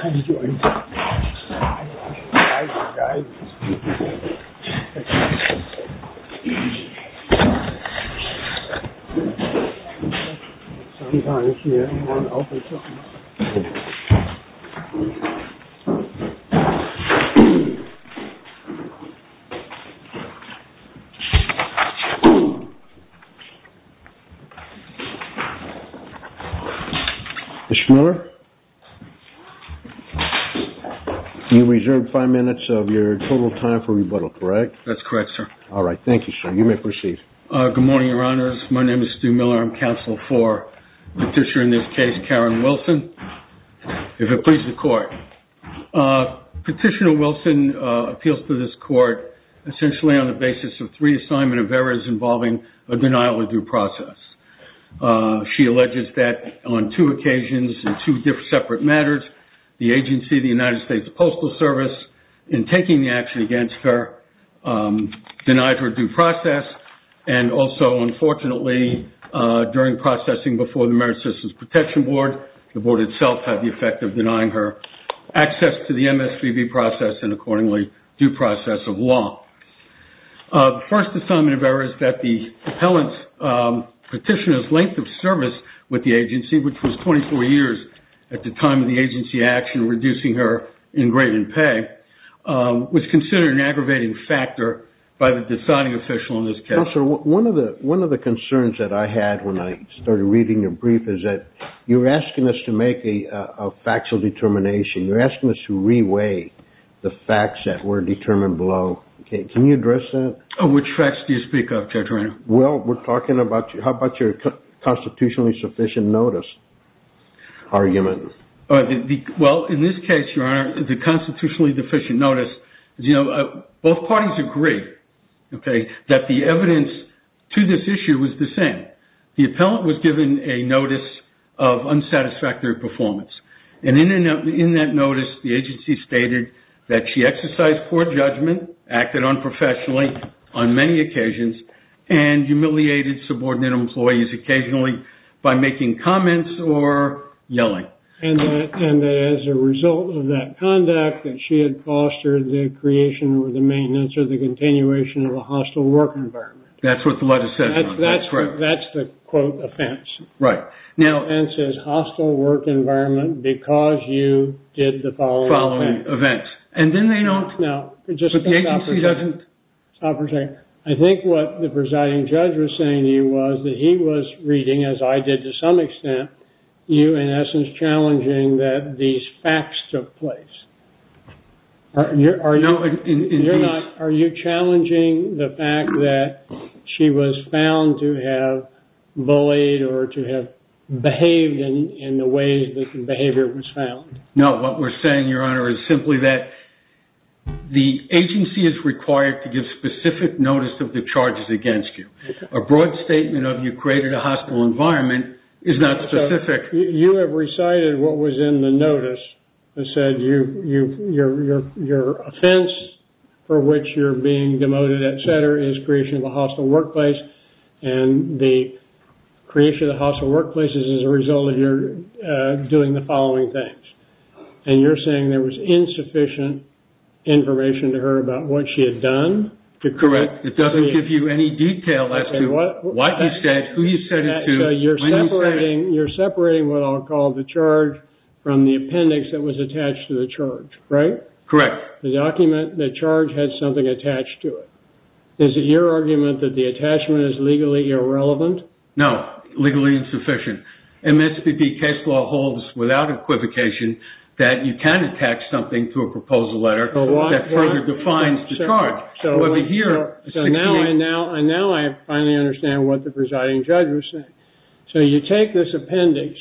How did you enter that room? I had the right-hand guide. Sometimes you have to open something. Mr. Miller, you reserved five minutes of your total time for rebuttal, correct? That's correct, sir. All right. Thank you, sir. You may proceed. Good morning, Your Honors. My name is Stu Miller. I'm the interim counsel for Petitioner, in this case, Karen Wilson, if it pleases the Court. Petitioner Wilson appeals to this Court essentially on the basis of three assignment of errors involving a denial of due process. She alleges that on two occasions in two separate matters, the agency, the United States Postal in taking the action against her, denied her due process, and also, unfortunately, during processing before the Merit Systems Protection Board, the Board itself had the effect of denying her access to the MSPB process and, accordingly, due process of law. The first assignment of error is that the appellant's petitioner's length of service with the agency, which was 24 years at the time of the agency action, reducing her in pay, was considered an aggravating factor by the deciding official in this case. Counselor, one of the concerns that I had when I started reading your brief is that you're asking us to make a factual determination. You're asking us to re-weigh the facts that were determined below. Can you address that? Which facts do you speak of, Judge Reynolds? Well, we're talking about how about your constitutionally sufficient notice argument? Well, in this case, Your Honor, the constitutionally deficient notice, both parties agree that the evidence to this issue was the same. The appellant was given a notice of unsatisfactory performance. In that notice, the agency stated that she exercised poor judgment, acted unprofessionally on many occasions, and humiliated subordinate employees occasionally by making comments or yelling. And as a result of that conduct, that she had fostered the creation or the maintenance or the continuation of a hostile work environment. That's what the letter says, Your Honor, that's correct. That's the, quote, offense. Right. Now- The offense is hostile work environment because you did the following offense. Following events. And then they don't- No. But the agency doesn't- Stop for a second. I think what the presiding judge was saying to you was that he was reading, as I did to some extent, you in essence challenging that these facts took place. Are you- No. You're not- Are you challenging the fact that she was found to have bullied or to have behaved in the way that the behavior was found? No. What we're saying, Your Honor, is simply that the agency is required to give specific notice of the charges against you. A broad statement of you created a hostile environment is not specific. You have recited what was in the notice that said your offense for which you're being demoted, et cetera, is creation of a hostile workplace. And the creation of the hostile workplace is as a result of your doing the following things. And you're saying there was insufficient information to her about what she had done? Correct. It doesn't give you any detail as to what you said, who you said it to, when you said- You're separating what I'll call the charge from the appendix that was attached to the charge, right? Correct. The document, the charge, had something attached to it. Is it your argument that the attachment is legally irrelevant? No. Legally insufficient. MSPB case law holds without equivocation that you can attach something to a proposal letter that further defines the charge. So now I finally understand what the presiding judge was saying. So you take this appendix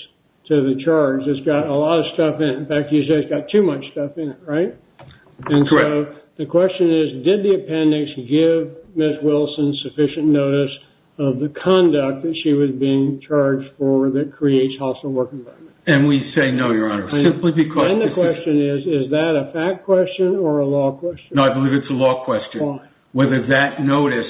to the charge that's got a lot of stuff in it. In fact, you say it's got too much stuff in it, right? Correct. The question is, did the appendix give Ms. Wilson sufficient notice of the conduct that she was being charged for that creates hostile work environments? And we say no, Your Honor. Simply because- And the question is, is that a fact question or a law question? No, I believe it's a law question. Whether that notice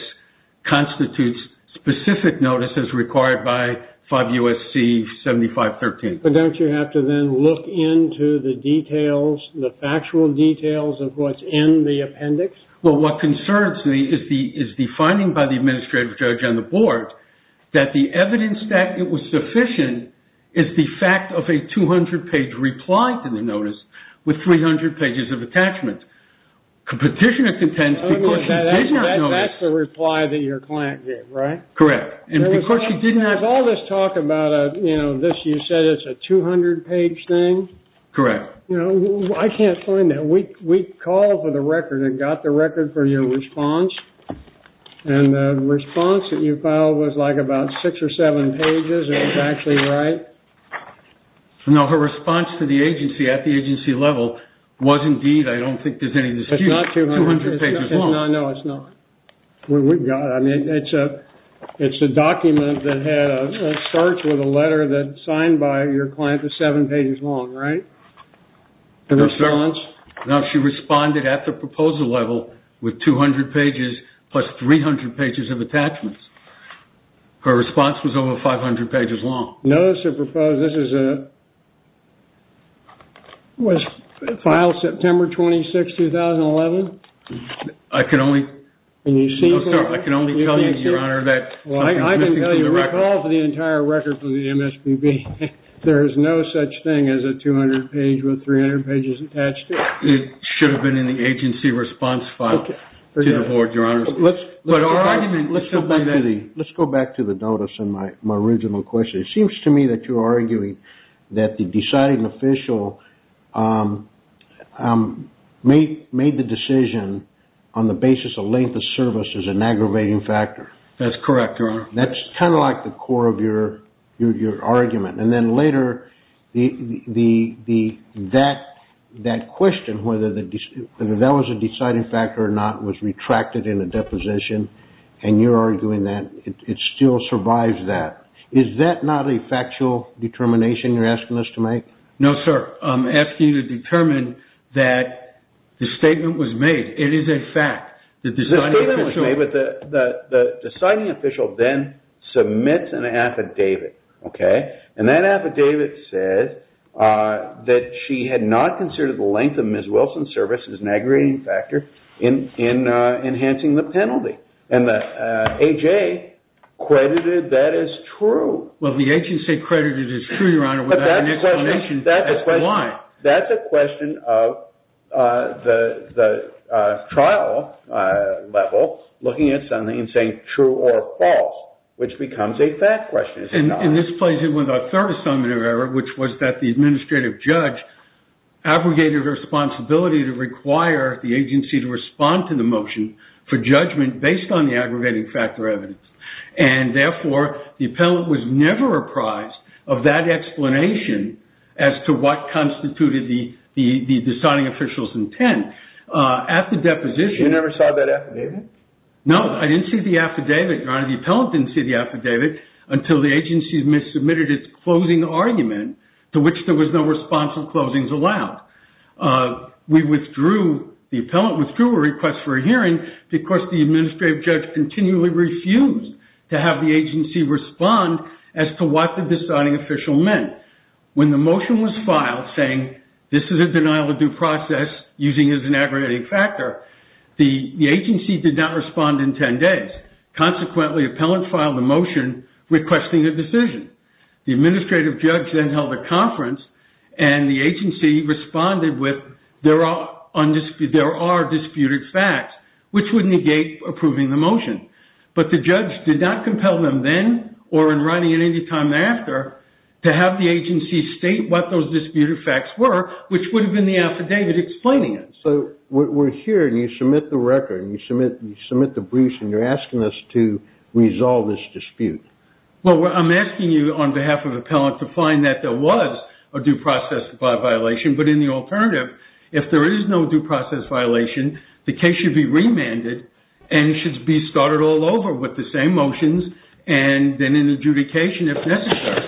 constitutes specific notice as required by 5 U.S.C. 7513. But don't you have to then look into the details, the factual details of what's in the appendix? Well, what concerns me is the finding by the administrative judge on the board that the evidence that it was sufficient is the fact of a 200-page reply to the notice with 300 pages of attachments. Petitioner contends because she did not notice- That's the reply that your client gave, right? Correct. And because she did not- There was all this talk about this, you said it's a 200-page thing. Correct. I can't find that. We called for the record and got the record for your response. And the response that you filed was like about six or seven pages. Is that actually right? No, her response to the agency at the agency level was indeed, I don't think there's any dispute- It's not 200- 200 pages long. No, no, it's not. I mean, it's a document that had a search with a letter that's signed by your client that's seven pages long, right? No, she responded at the proposal level with 200 pages plus 300 pages of attachments. Her response was over 500 pages long. Notice of proposed, this was filed September 26, 2011. I can only tell you, Your Honor, that- Well, I can tell you, we called for the entire record from the MSPB. There is no such thing as a 200-page with 300 pages attached to it. It should have been in the agency response file to the board, Your Honor. But our argument- Let's go back to the notice and my original question. It seems to me that you're arguing that the deciding official made the decision on the basis of length of service as an aggravating factor. That's correct, Your Honor. That's kind of like the core of your argument. And then later, that question, whether that was a deciding factor or not, was retracted in a deposition, and you're arguing that it still survives that. Is that not a factual determination you're asking us to make? No, sir. I'm asking you to determine that the statement was made. It is a fact. The statement was made, but the deciding official then submits an affidavit. And that affidavit says that she had not considered the length of Ms. Wilson's service as an aggravating factor in enhancing the penalty. And the A.J. credited that as true. Well, the agency credited it as true, Your Honor, without an explanation as to why. That's a question of the trial level looking at something and saying true or false, which becomes a fact question. And this plays in with our third assignment of error, which was that the administrative judge abrogated responsibility to require the agency to respond to the motion for a hearing based on the aggravating factor evidence. And therefore, the appellant was never apprised of that explanation as to what constituted the deciding official's intent. At the deposition- You never saw that affidavit? No, I didn't see the affidavit, Your Honor. The appellant didn't see the affidavit until the agency had missubmitted its closing argument, to which there was no responsible closings allowed. The appellant withdrew a request for a hearing because the administrative judge continually refused to have the agency respond as to what the deciding official meant. When the motion was filed saying, this is a denial of due process using as an aggravating factor, the agency did not respond in 10 days. Consequently, the appellant filed a motion requesting a decision. The administrative judge then held a conference, and the agency responded with, there are disputed facts, which would negate approving the motion. But the judge did not compel them then, or in writing at any time after, to have the agency state what those disputed facts were, which would have been the affidavit explaining it. So we're here, and you submit the record, and you submit the briefs, and you're asking us to resolve this dispute. Well, I'm asking you on behalf of the appellant to find that there was a due process violation, but in the alternative, if there is no due process violation, the case should be remanded, and it should be started all over with the same motions, and then an adjudication if necessary.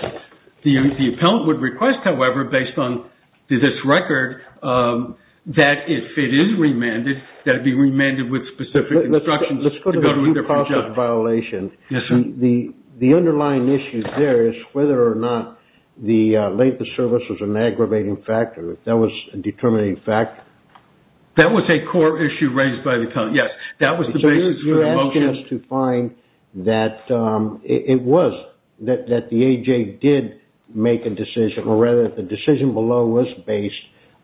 The appellant would request, however, based on this record, that if it is remanded, that it be remanded with specific instructions to go to a different judge. If there is a due process violation, the underlying issue there is whether or not the length of service was an aggravating factor. If that was a determining factor? That was a core issue raised by the appellant, yes. That was the basis of the motion. So you're asking us to find that it was, that the AJ did make a decision, or rather, that the decision below was based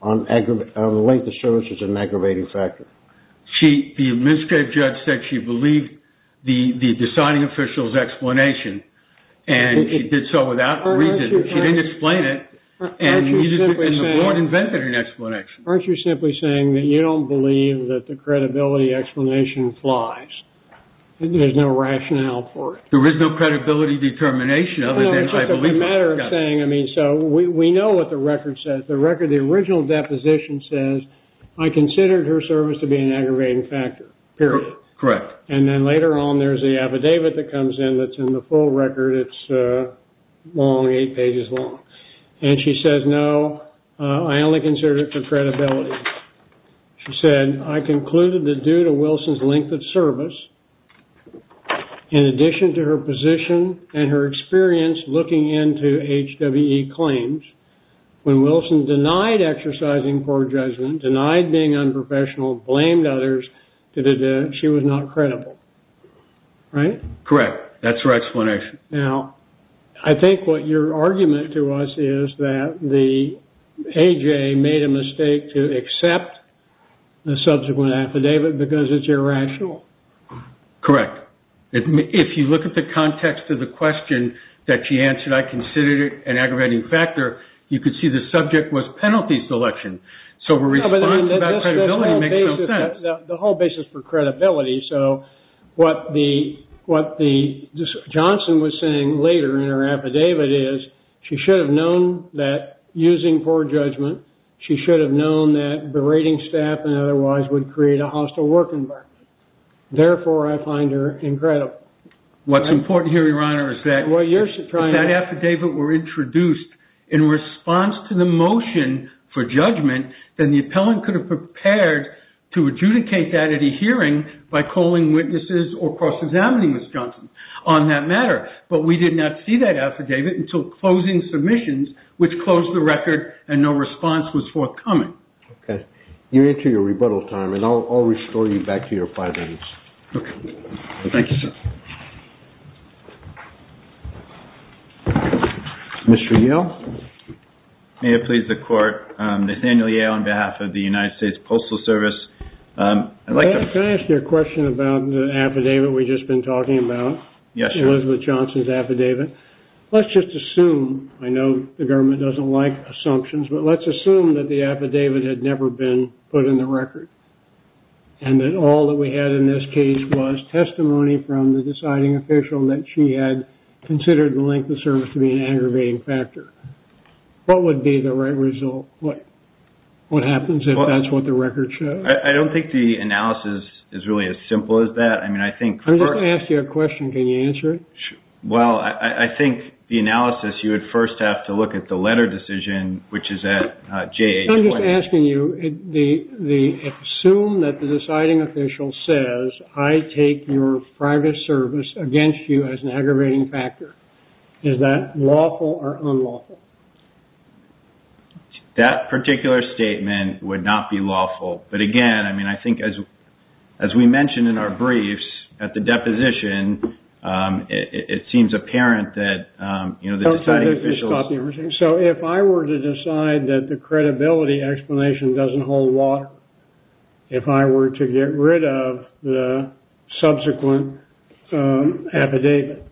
on the length of service as an aggravating factor. The administrative judge said she believed the deciding official's explanation, and she did so without reason. She didn't explain it, and the board invented an explanation. Aren't you simply saying that you don't believe that the credibility explanation flies? There's no rationale for it. There is no credibility determination other than I believe it. It's just a matter of saying, I mean, so we know what the record says. The record, the original deposition says, I considered her service to be an aggravating factor, period. Correct. And then later on, there's the affidavit that comes in that's in the full record. It's long, eight pages long. And she says, no, I only considered it for credibility. She said, I concluded that due to Wilson's length of service, in addition to her position and her experience looking into HWE claims, when Wilson denied exercising poor judgment, denied being unprofessional, blamed others, she was not credible. Right? Correct. That's her explanation. Now, I think what your argument to us is that the AJA made a mistake to accept the subsequent affidavit because it's irrational. Correct. If you look at the context of the question that she answered, I considered it an aggravating factor. You could see the subject was penalty selection. So her response about credibility makes no sense. The whole basis for credibility. So what Johnson was saying later in her affidavit is she should have known that using poor judgment, she should have known that berating staff and otherwise would create a hostile work environment. Therefore, I find her incredible. What's important here, Your Honor, is that if that affidavit were introduced in response to the motion for judgment, then the appellant could have prepared to adjudicate that at a hearing by calling witnesses or cross-examining Ms. Johnson on that matter. But we did not see that affidavit until closing submissions, which closed the record and no response was forthcoming. Okay. You're into your rebuttal time and I'll restore you back to your five minutes. Okay. Thank you, sir. Mr. Yale? May it please the Court, Nathaniel Yale on behalf of the United States Postal Can I ask you a question about the affidavit we've just been talking about? Yes, Your Honor. Elizabeth Johnson's affidavit. Let's just assume, I know the government doesn't like assumptions, but let's put in the record and that all that we had in this case was testimony from the deciding official that she had considered the length of service to be an aggravating factor. What would be the right result? What happens if that's what the record shows? I don't think the analysis is really as simple as that. I mean, I think... I'm just going to ask you a question. Can you answer it? Well, I think the analysis, you would first have to look at the letter decision, which is at J820. I'm asking you, assume that the deciding official says, I take your private service against you as an aggravating factor. Is that lawful or unlawful? That particular statement would not be lawful. But again, I mean, I think as we mentioned in our briefs at the deposition, it seems apparent that, you know, the deciding official... So if I were to decide that the credibility explanation doesn't hold water, if I were to get rid of the subsequent affidavit,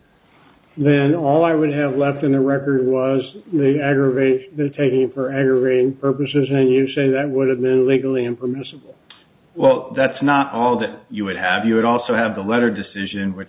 then all I would have left in the record was the aggravating... the taking for aggravating purposes. And you say that would have been legally impermissible. Well, that's not all that you would have. You would also have the letter decision, which... that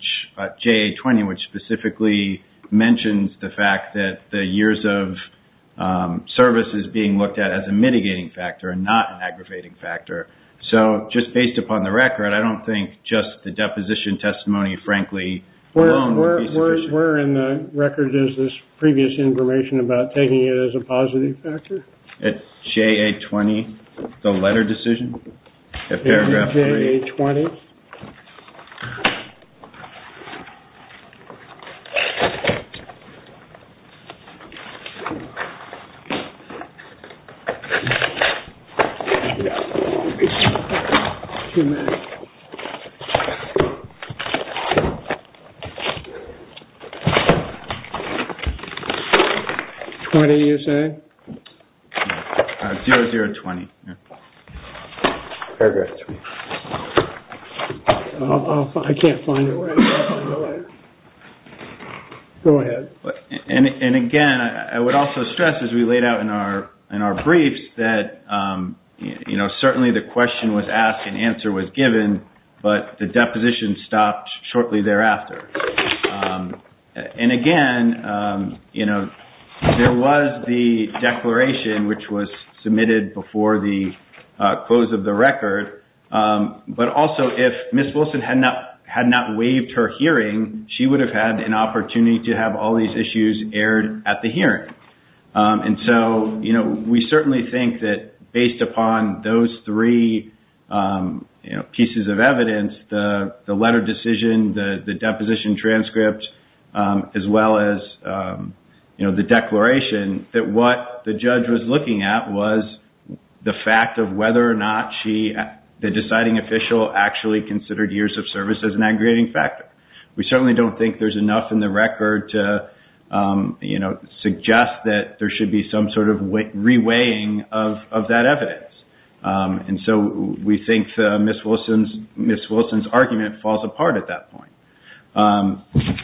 the years of service is being looked at as a mitigating factor and not an aggravating factor. So just based upon the record, I don't think just the deposition testimony, frankly, alone would be sufficient. Where in the record is this previous information about taking it as a positive factor? At J820, the letter decision? At paragraph 3? J820. Okay. 20, you say? 0020, yeah. Paragraph 3. I can't find it. Go ahead. And again, I would also stress, as we laid out in our briefs, that certainly the question was asked and answer was given, but the deposition stopped shortly thereafter. And again, there was the declaration, which was submitted before the close of the record, but also if Ms. Wilson had not waived her hearing, she would have had an opportunity to have all these issues aired at the hearing. And so we certainly think that based upon those three pieces of evidence, the letter decision, the deposition transcript, as well as the declaration, that what the judge was looking at was the fact of whether or not the deciding official actually considered years of service as an aggregating factor. We certainly don't think there's enough in the record to, you know, suggest that there should be some sort of reweighing of that evidence. And so we think Ms. Wilson's argument falls apart at that point.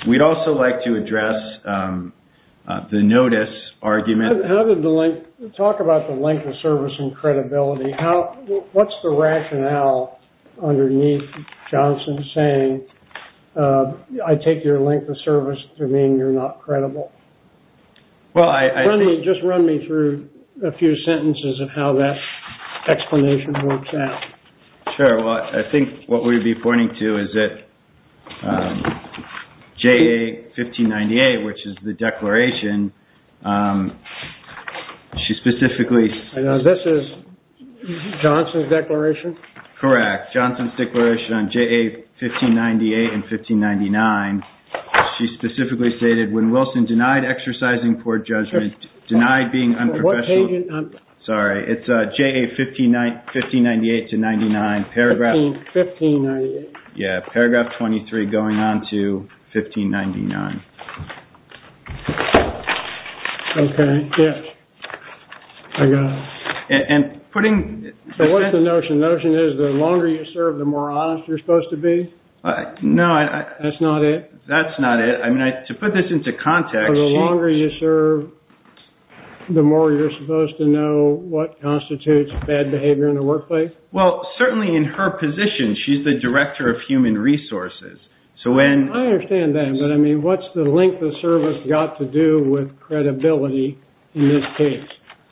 We'd also like to address the notice argument. How did the link? Talk about the link of service and credibility. What's the rationale underneath Johnson saying, I take your link of service to mean you're not credible? Just run me through a few sentences of how that explanation works out. Sure. Well, I think what we'd be pointing to is that J.A. 1598, which is the declaration, she specifically... This is Johnson's declaration? Correct. Johnson's declaration on J.A. 1598 and 1599. She specifically stated when Wilson denied exercising court judgment, denied being unprofessional. Sorry. It's J.A. 1598 to 99. Paragraph. 1598. Yeah. Paragraph 23 going on to 1599. Okay. Yes. I got it. And putting... So what's the notion? The notion is the longer you serve, the more honest you're supposed to be? No, I... That's not it? That's not it. I mean, to put this into context... The longer you serve, the more you're supposed to know what constitutes bad behavior in the workplace? Well, certainly in her position, she's the director of human resources. So when... I understand that. But I mean, what's the length of service got to do with credibility in this case?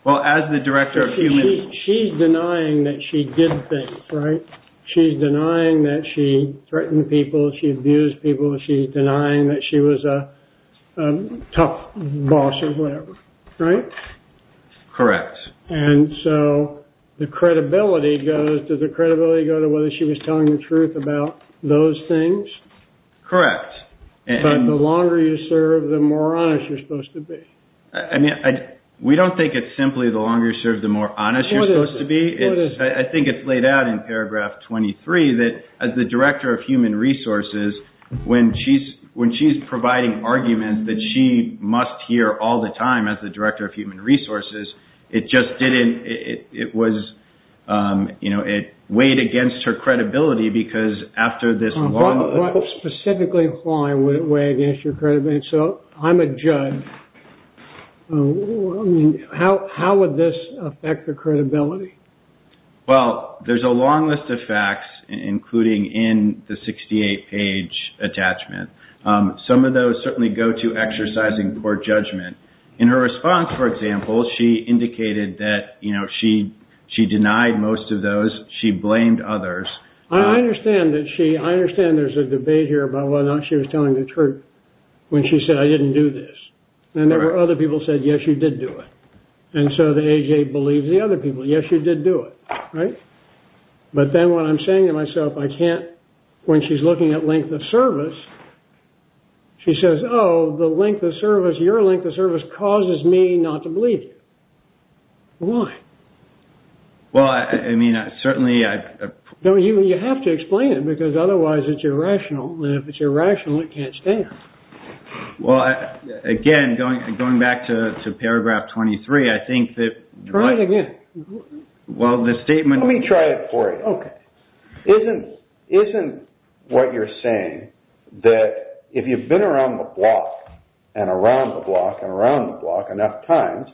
Well, as the director of human... She's denying that she did things, right? She's denying that she threatened people, she abused people. She's denying that she was a tough boss or whatever, right? Correct. And so the credibility goes... Does the credibility go to whether she was telling the truth about those things? Correct. But the longer you serve, the more honest you're supposed to be. I mean, we don't think it's simply the longer you serve, the more honest you're supposed to be. I think it's laid out in paragraph 23 that as the director of human resources, when she's providing arguments that she must hear all the time as the director of human resources, it just didn't... It was... You know, it weighed against her credibility because after this long... Specifically, why would it weigh against your credibility? So I'm a judge. I mean, how would this affect the credibility? Well, there's a long list of facts, including in the 68-page attachment. Some of those certainly go to exercising court judgment. In her response, for example, she indicated that, you know, she denied most of those. She blamed others. I understand that she... I understand there's a debate here about whether or not she was telling the truth when she said, I didn't do this. And there were other people who said, yes, you did do it. And so the A.J. believes the other people. Yes, you did do it, right? But then what I'm saying to myself, I can't... When she's looking at length of service, she says, oh, the length of service, your length of service causes me not to believe you. Why? Well, I mean, I certainly... You have to explain it because otherwise it's irrational. And if it's irrational, it can't stand. Well, again, going back to paragraph 23, I think that... Try it again. Well, the statement... Let me try it for you. Okay. Isn't what you're saying that if you've been around the block and around the block and around the block enough times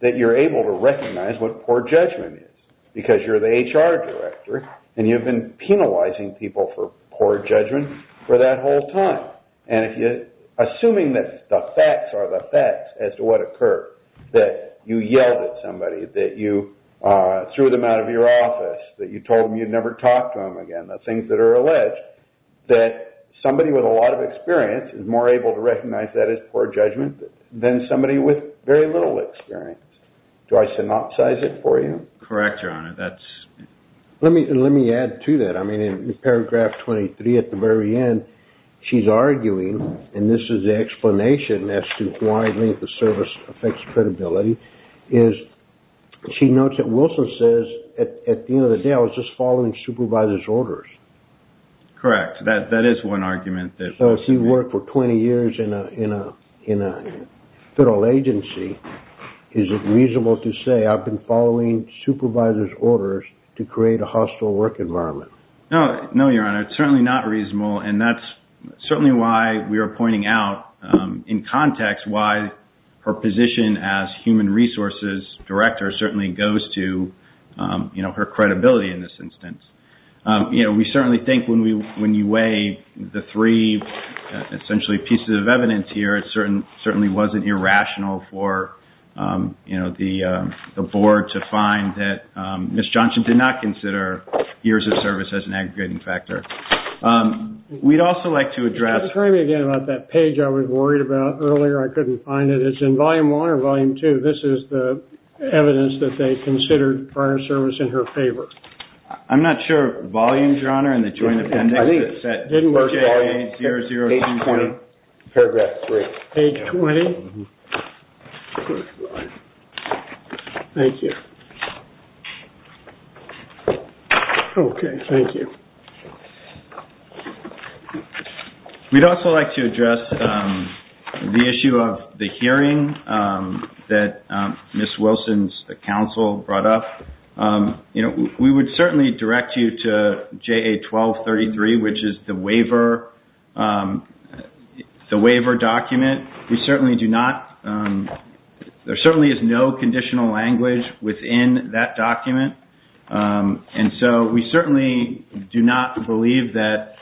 that you're able to recognize what poor judgment is because you're the HR director and you've been penalizing people for poor judgment for that whole time. And assuming that the facts are the facts as to what occurred, that you yelled at somebody, that you threw them out of your office, that you told them you'd never talk to them again, the things that are alleged, that somebody with a lot of experience is more able to recognize that as poor judgment than somebody with very little experience. Do I synopsize it for you? Correct, Your Honor. That's... Let me add to that. I mean, in paragraph 23, at the very end, she's arguing, and this is the explanation as to why length of service affects credibility, is she notes that Wilson says, at the end of the day, I was just following supervisor's orders. Correct. That is one argument that... So if you've worked for 20 years in a federal agency, is it reasonable to say I've been following supervisor's orders to create a hostile work environment? No. No, Your Honor. It's certainly not reasonable, and that's certainly why we are pointing out, in context, why her position as human resources director certainly goes to, you know, her credibility in this instance. You know, we certainly think when you weigh the three, essentially, pieces of evidence here, it certainly wasn't irrational for, you know, the board to find that Ms. Johnson did not consider years of service as an aggregating factor. We'd also like to address... Don't try me again about that page I was worried about earlier. I couldn't find it. It's in volume one or volume two. This is the evidence that they considered prior service in her favor. I'm not sure volume, Your Honor, in the joint appendix that said... I think... It didn't work, Your Honor. JA0022... Page 20. Paragraph 3. Page 20? Thank you. Okay. Thank you. We'd also like to address the issue of the hearing that Ms. Wilson's counsel brought up. You know, we would certainly direct you to JA1233, which is the waiver document. We certainly do not... There certainly is no conditional language within that document, and so we certainly do not believe that,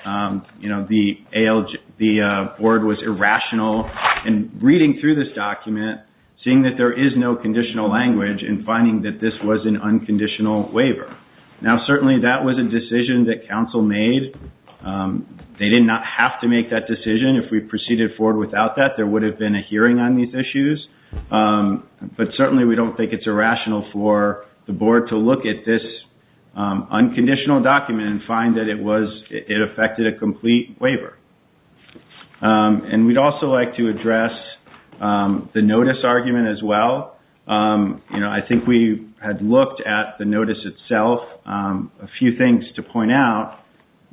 you know, the board was irrational in reading through this document, seeing that there is no conditional language and finding that this was an unconditional waiver. Now, certainly that was a decision that counsel made. They did not have to make that decision if we proceeded forward without that. There would have been a hearing on these issues, but certainly we don't think it's irrational for the board to look at this unconditional document and find that it affected a complete waiver. And we'd also like to address the notice argument as well. You know, I think we had looked at the notice itself. A few things to point out.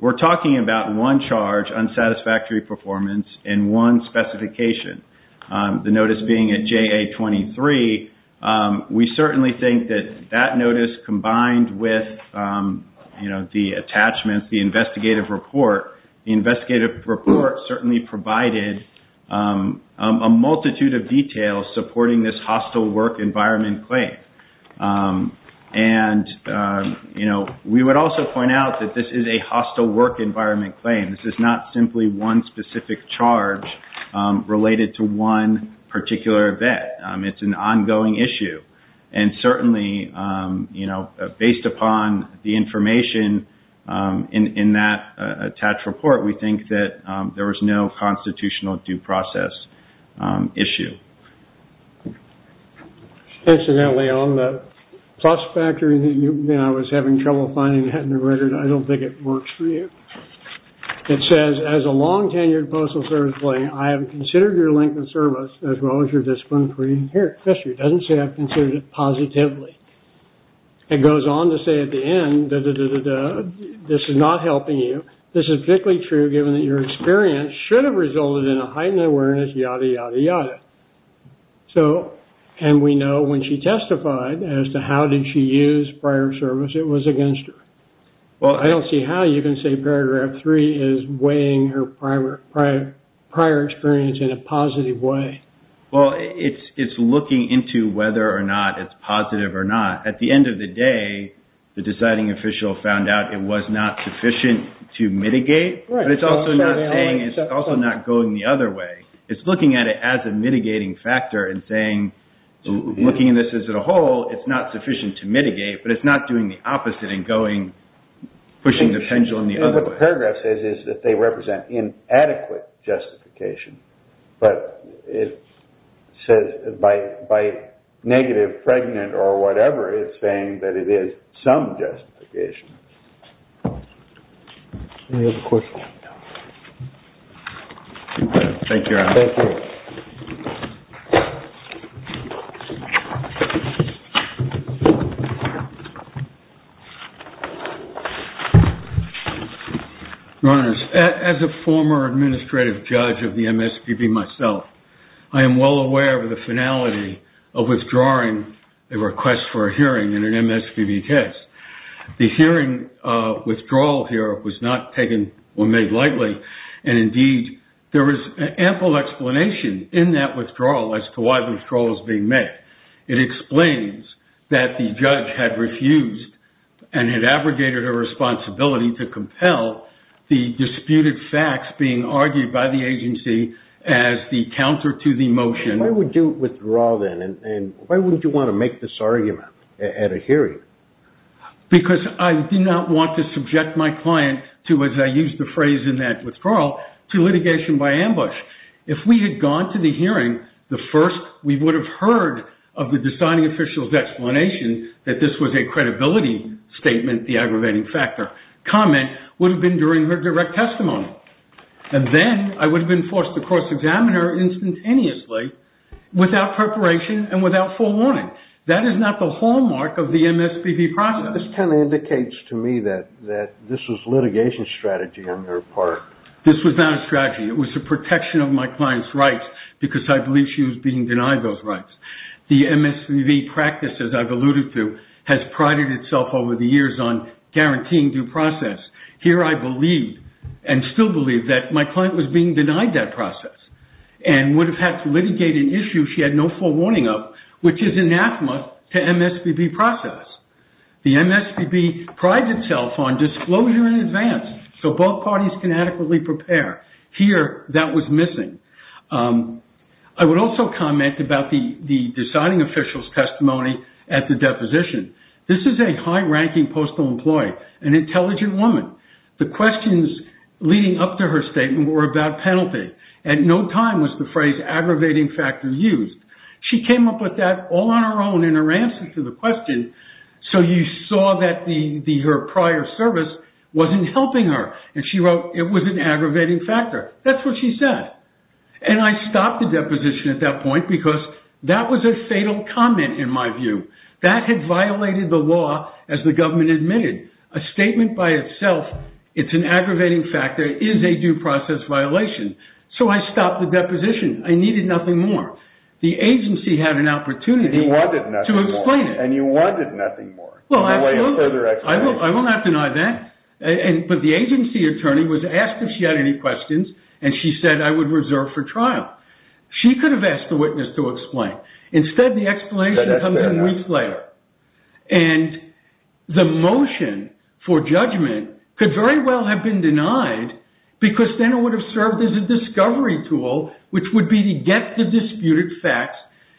We're talking about one charge, unsatisfactory performance, and one specification. The notice being at JA23. We certainly think that that notice combined with, you know, the attachments, the investigative report, the investigative report certainly provided a multitude of details supporting this hostile work environment claim. And, you know, we would also point out that this is a hostile work environment claim. This is not simply one specific charge related to one particular event. It's an ongoing issue. And certainly, you know, based upon the information in that attached report, we think that there was no constitutional due process issue. Incidentally, on the plus factor, you know, I was having trouble finding that in the record. I don't think it works for you. It says, as a long-tenured Postal Service employee, I have considered your length of service as well as your discipline free. Here, it doesn't say I've considered it positively. It goes on to say at the end, da-da-da-da-da, this is not helping you. This is particularly true given that your experience should have resulted in a heightened awareness, yada, yada, yada. So, and we know when she testified as to how did she use prior service, it was against her. I don't see how you can say paragraph three is weighing her prior experience in a positive way. Well, it's looking into whether or not it's positive or not. At the end of the day, the deciding official found out it was not sufficient to mitigate. But it's also not saying, it's pushing the pendulum the other way. It's looking at it as a mitigating factor and saying, looking at this as a whole, it's not sufficient to mitigate, but it's not doing the opposite and pushing the pendulum the other way. What the paragraph says is that they represent inadequate justification. But it says by negative, pregnant, or whatever, it's saying that it is some justification. Any other questions? No. Thank you, Your Honor. Thank you. Your Honor, as a former administrative judge of the MSPB myself, I am well aware of the finality of withdrawing a request for a hearing in an MSPB case. The hearing withdrawal here was not taken or made lightly. Indeed, there is ample explanation in that withdrawal as to why the withdrawal is being made. It explains that the judge had refused and had abrogated her responsibility to compel the disputed facts being argued by the agency as the counter to the motion. Why would you withdraw then? Why would you want to make this argument at a hearing? Because I did not want to subject my client to, as I used the phrase in that withdrawal, to litigation by ambush. If we had gone to the hearing, the first we would have heard of the deciding official's explanation that this was a credibility statement, the aggravating factor comment would have been during her direct testimony. And then I would have been forced to cross-examine her instantaneously without preparation and without forewarning. That is not the hallmark of the MSPB process. This kind of indicates to me that this was litigation strategy on their part. This was not a strategy. It was the protection of my client's rights because I believe she was being denied those rights. The MSPB practice, as I've alluded to, has prided itself over the years on guaranteeing due process. Here I believe, and still believe, that my client was being denied that process and would have had to litigate an issue she had no forewarning of, which is anathema to MSPB process. The MSPB prides itself on disclosure in advance so both parties can adequately prepare. Here, that was missing. I would also comment about the deciding official's testimony at the deposition. This is a high-ranking postal employee, an intelligent woman. The questions leading up to her statement were about penalty. At no time was the phrase aggravating factor used. She came up with that all on her own in her answer to the question. You saw that her prior service wasn't helping her. She wrote it was an aggravating factor. That's what she said. I stopped the deposition at that point because that was a fatal comment, in my view. That had violated the law, as the government admitted. A statement by itself, it's an aggravating factor, is a due process violation. I stopped the deposition. I needed nothing more. The agency had an opportunity to explain it. You wanted nothing more. I will not deny that. The agency attorney was asked if she had any questions and she said I would reserve for trial. She could have asked the witness to explain. Instead, the explanation comes in weeks later. The motion for judgment could very well have been denied because then it would have served as a discovery tool which would be to get the disputed facts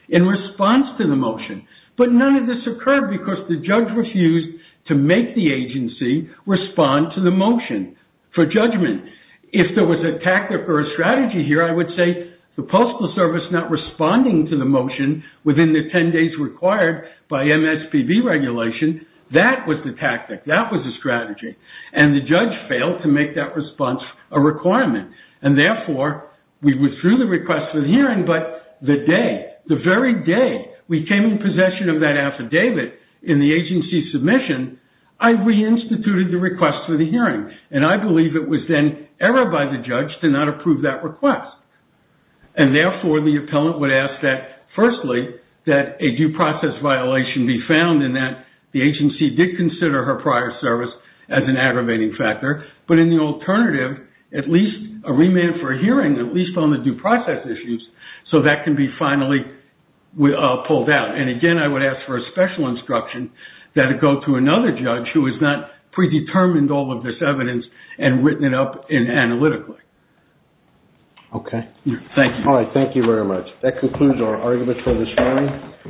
in response to the motion. None of this occurred because the judge refused to make the agency respond to the motion for judgment. If there was a tactic or a strategy here, I would say the Postal Service not responding to the motion within the 10 days required by MSPB regulation, that was the tactic. That was the strategy. The judge failed to make that response a requirement. Therefore, we withdrew the request for the hearing, but the day, the very day we came in possession of that affidavit in the agency submission, I reinstituted the request for the hearing. I believe it was then error by the judge to not approve that request. Therefore, the appellant would ask that firstly that a due process violation be found in that the agency did consider her prior service as an aggravating factor. In the alternative, at least a remand for a hearing, at least on the due process issues, so that can be finally pulled out. Again, I would ask for a special instruction that it go to another judge who has not predetermined all of this evidence and written it up analytically. Thank you. Thank you very much. That concludes our argument for this morning.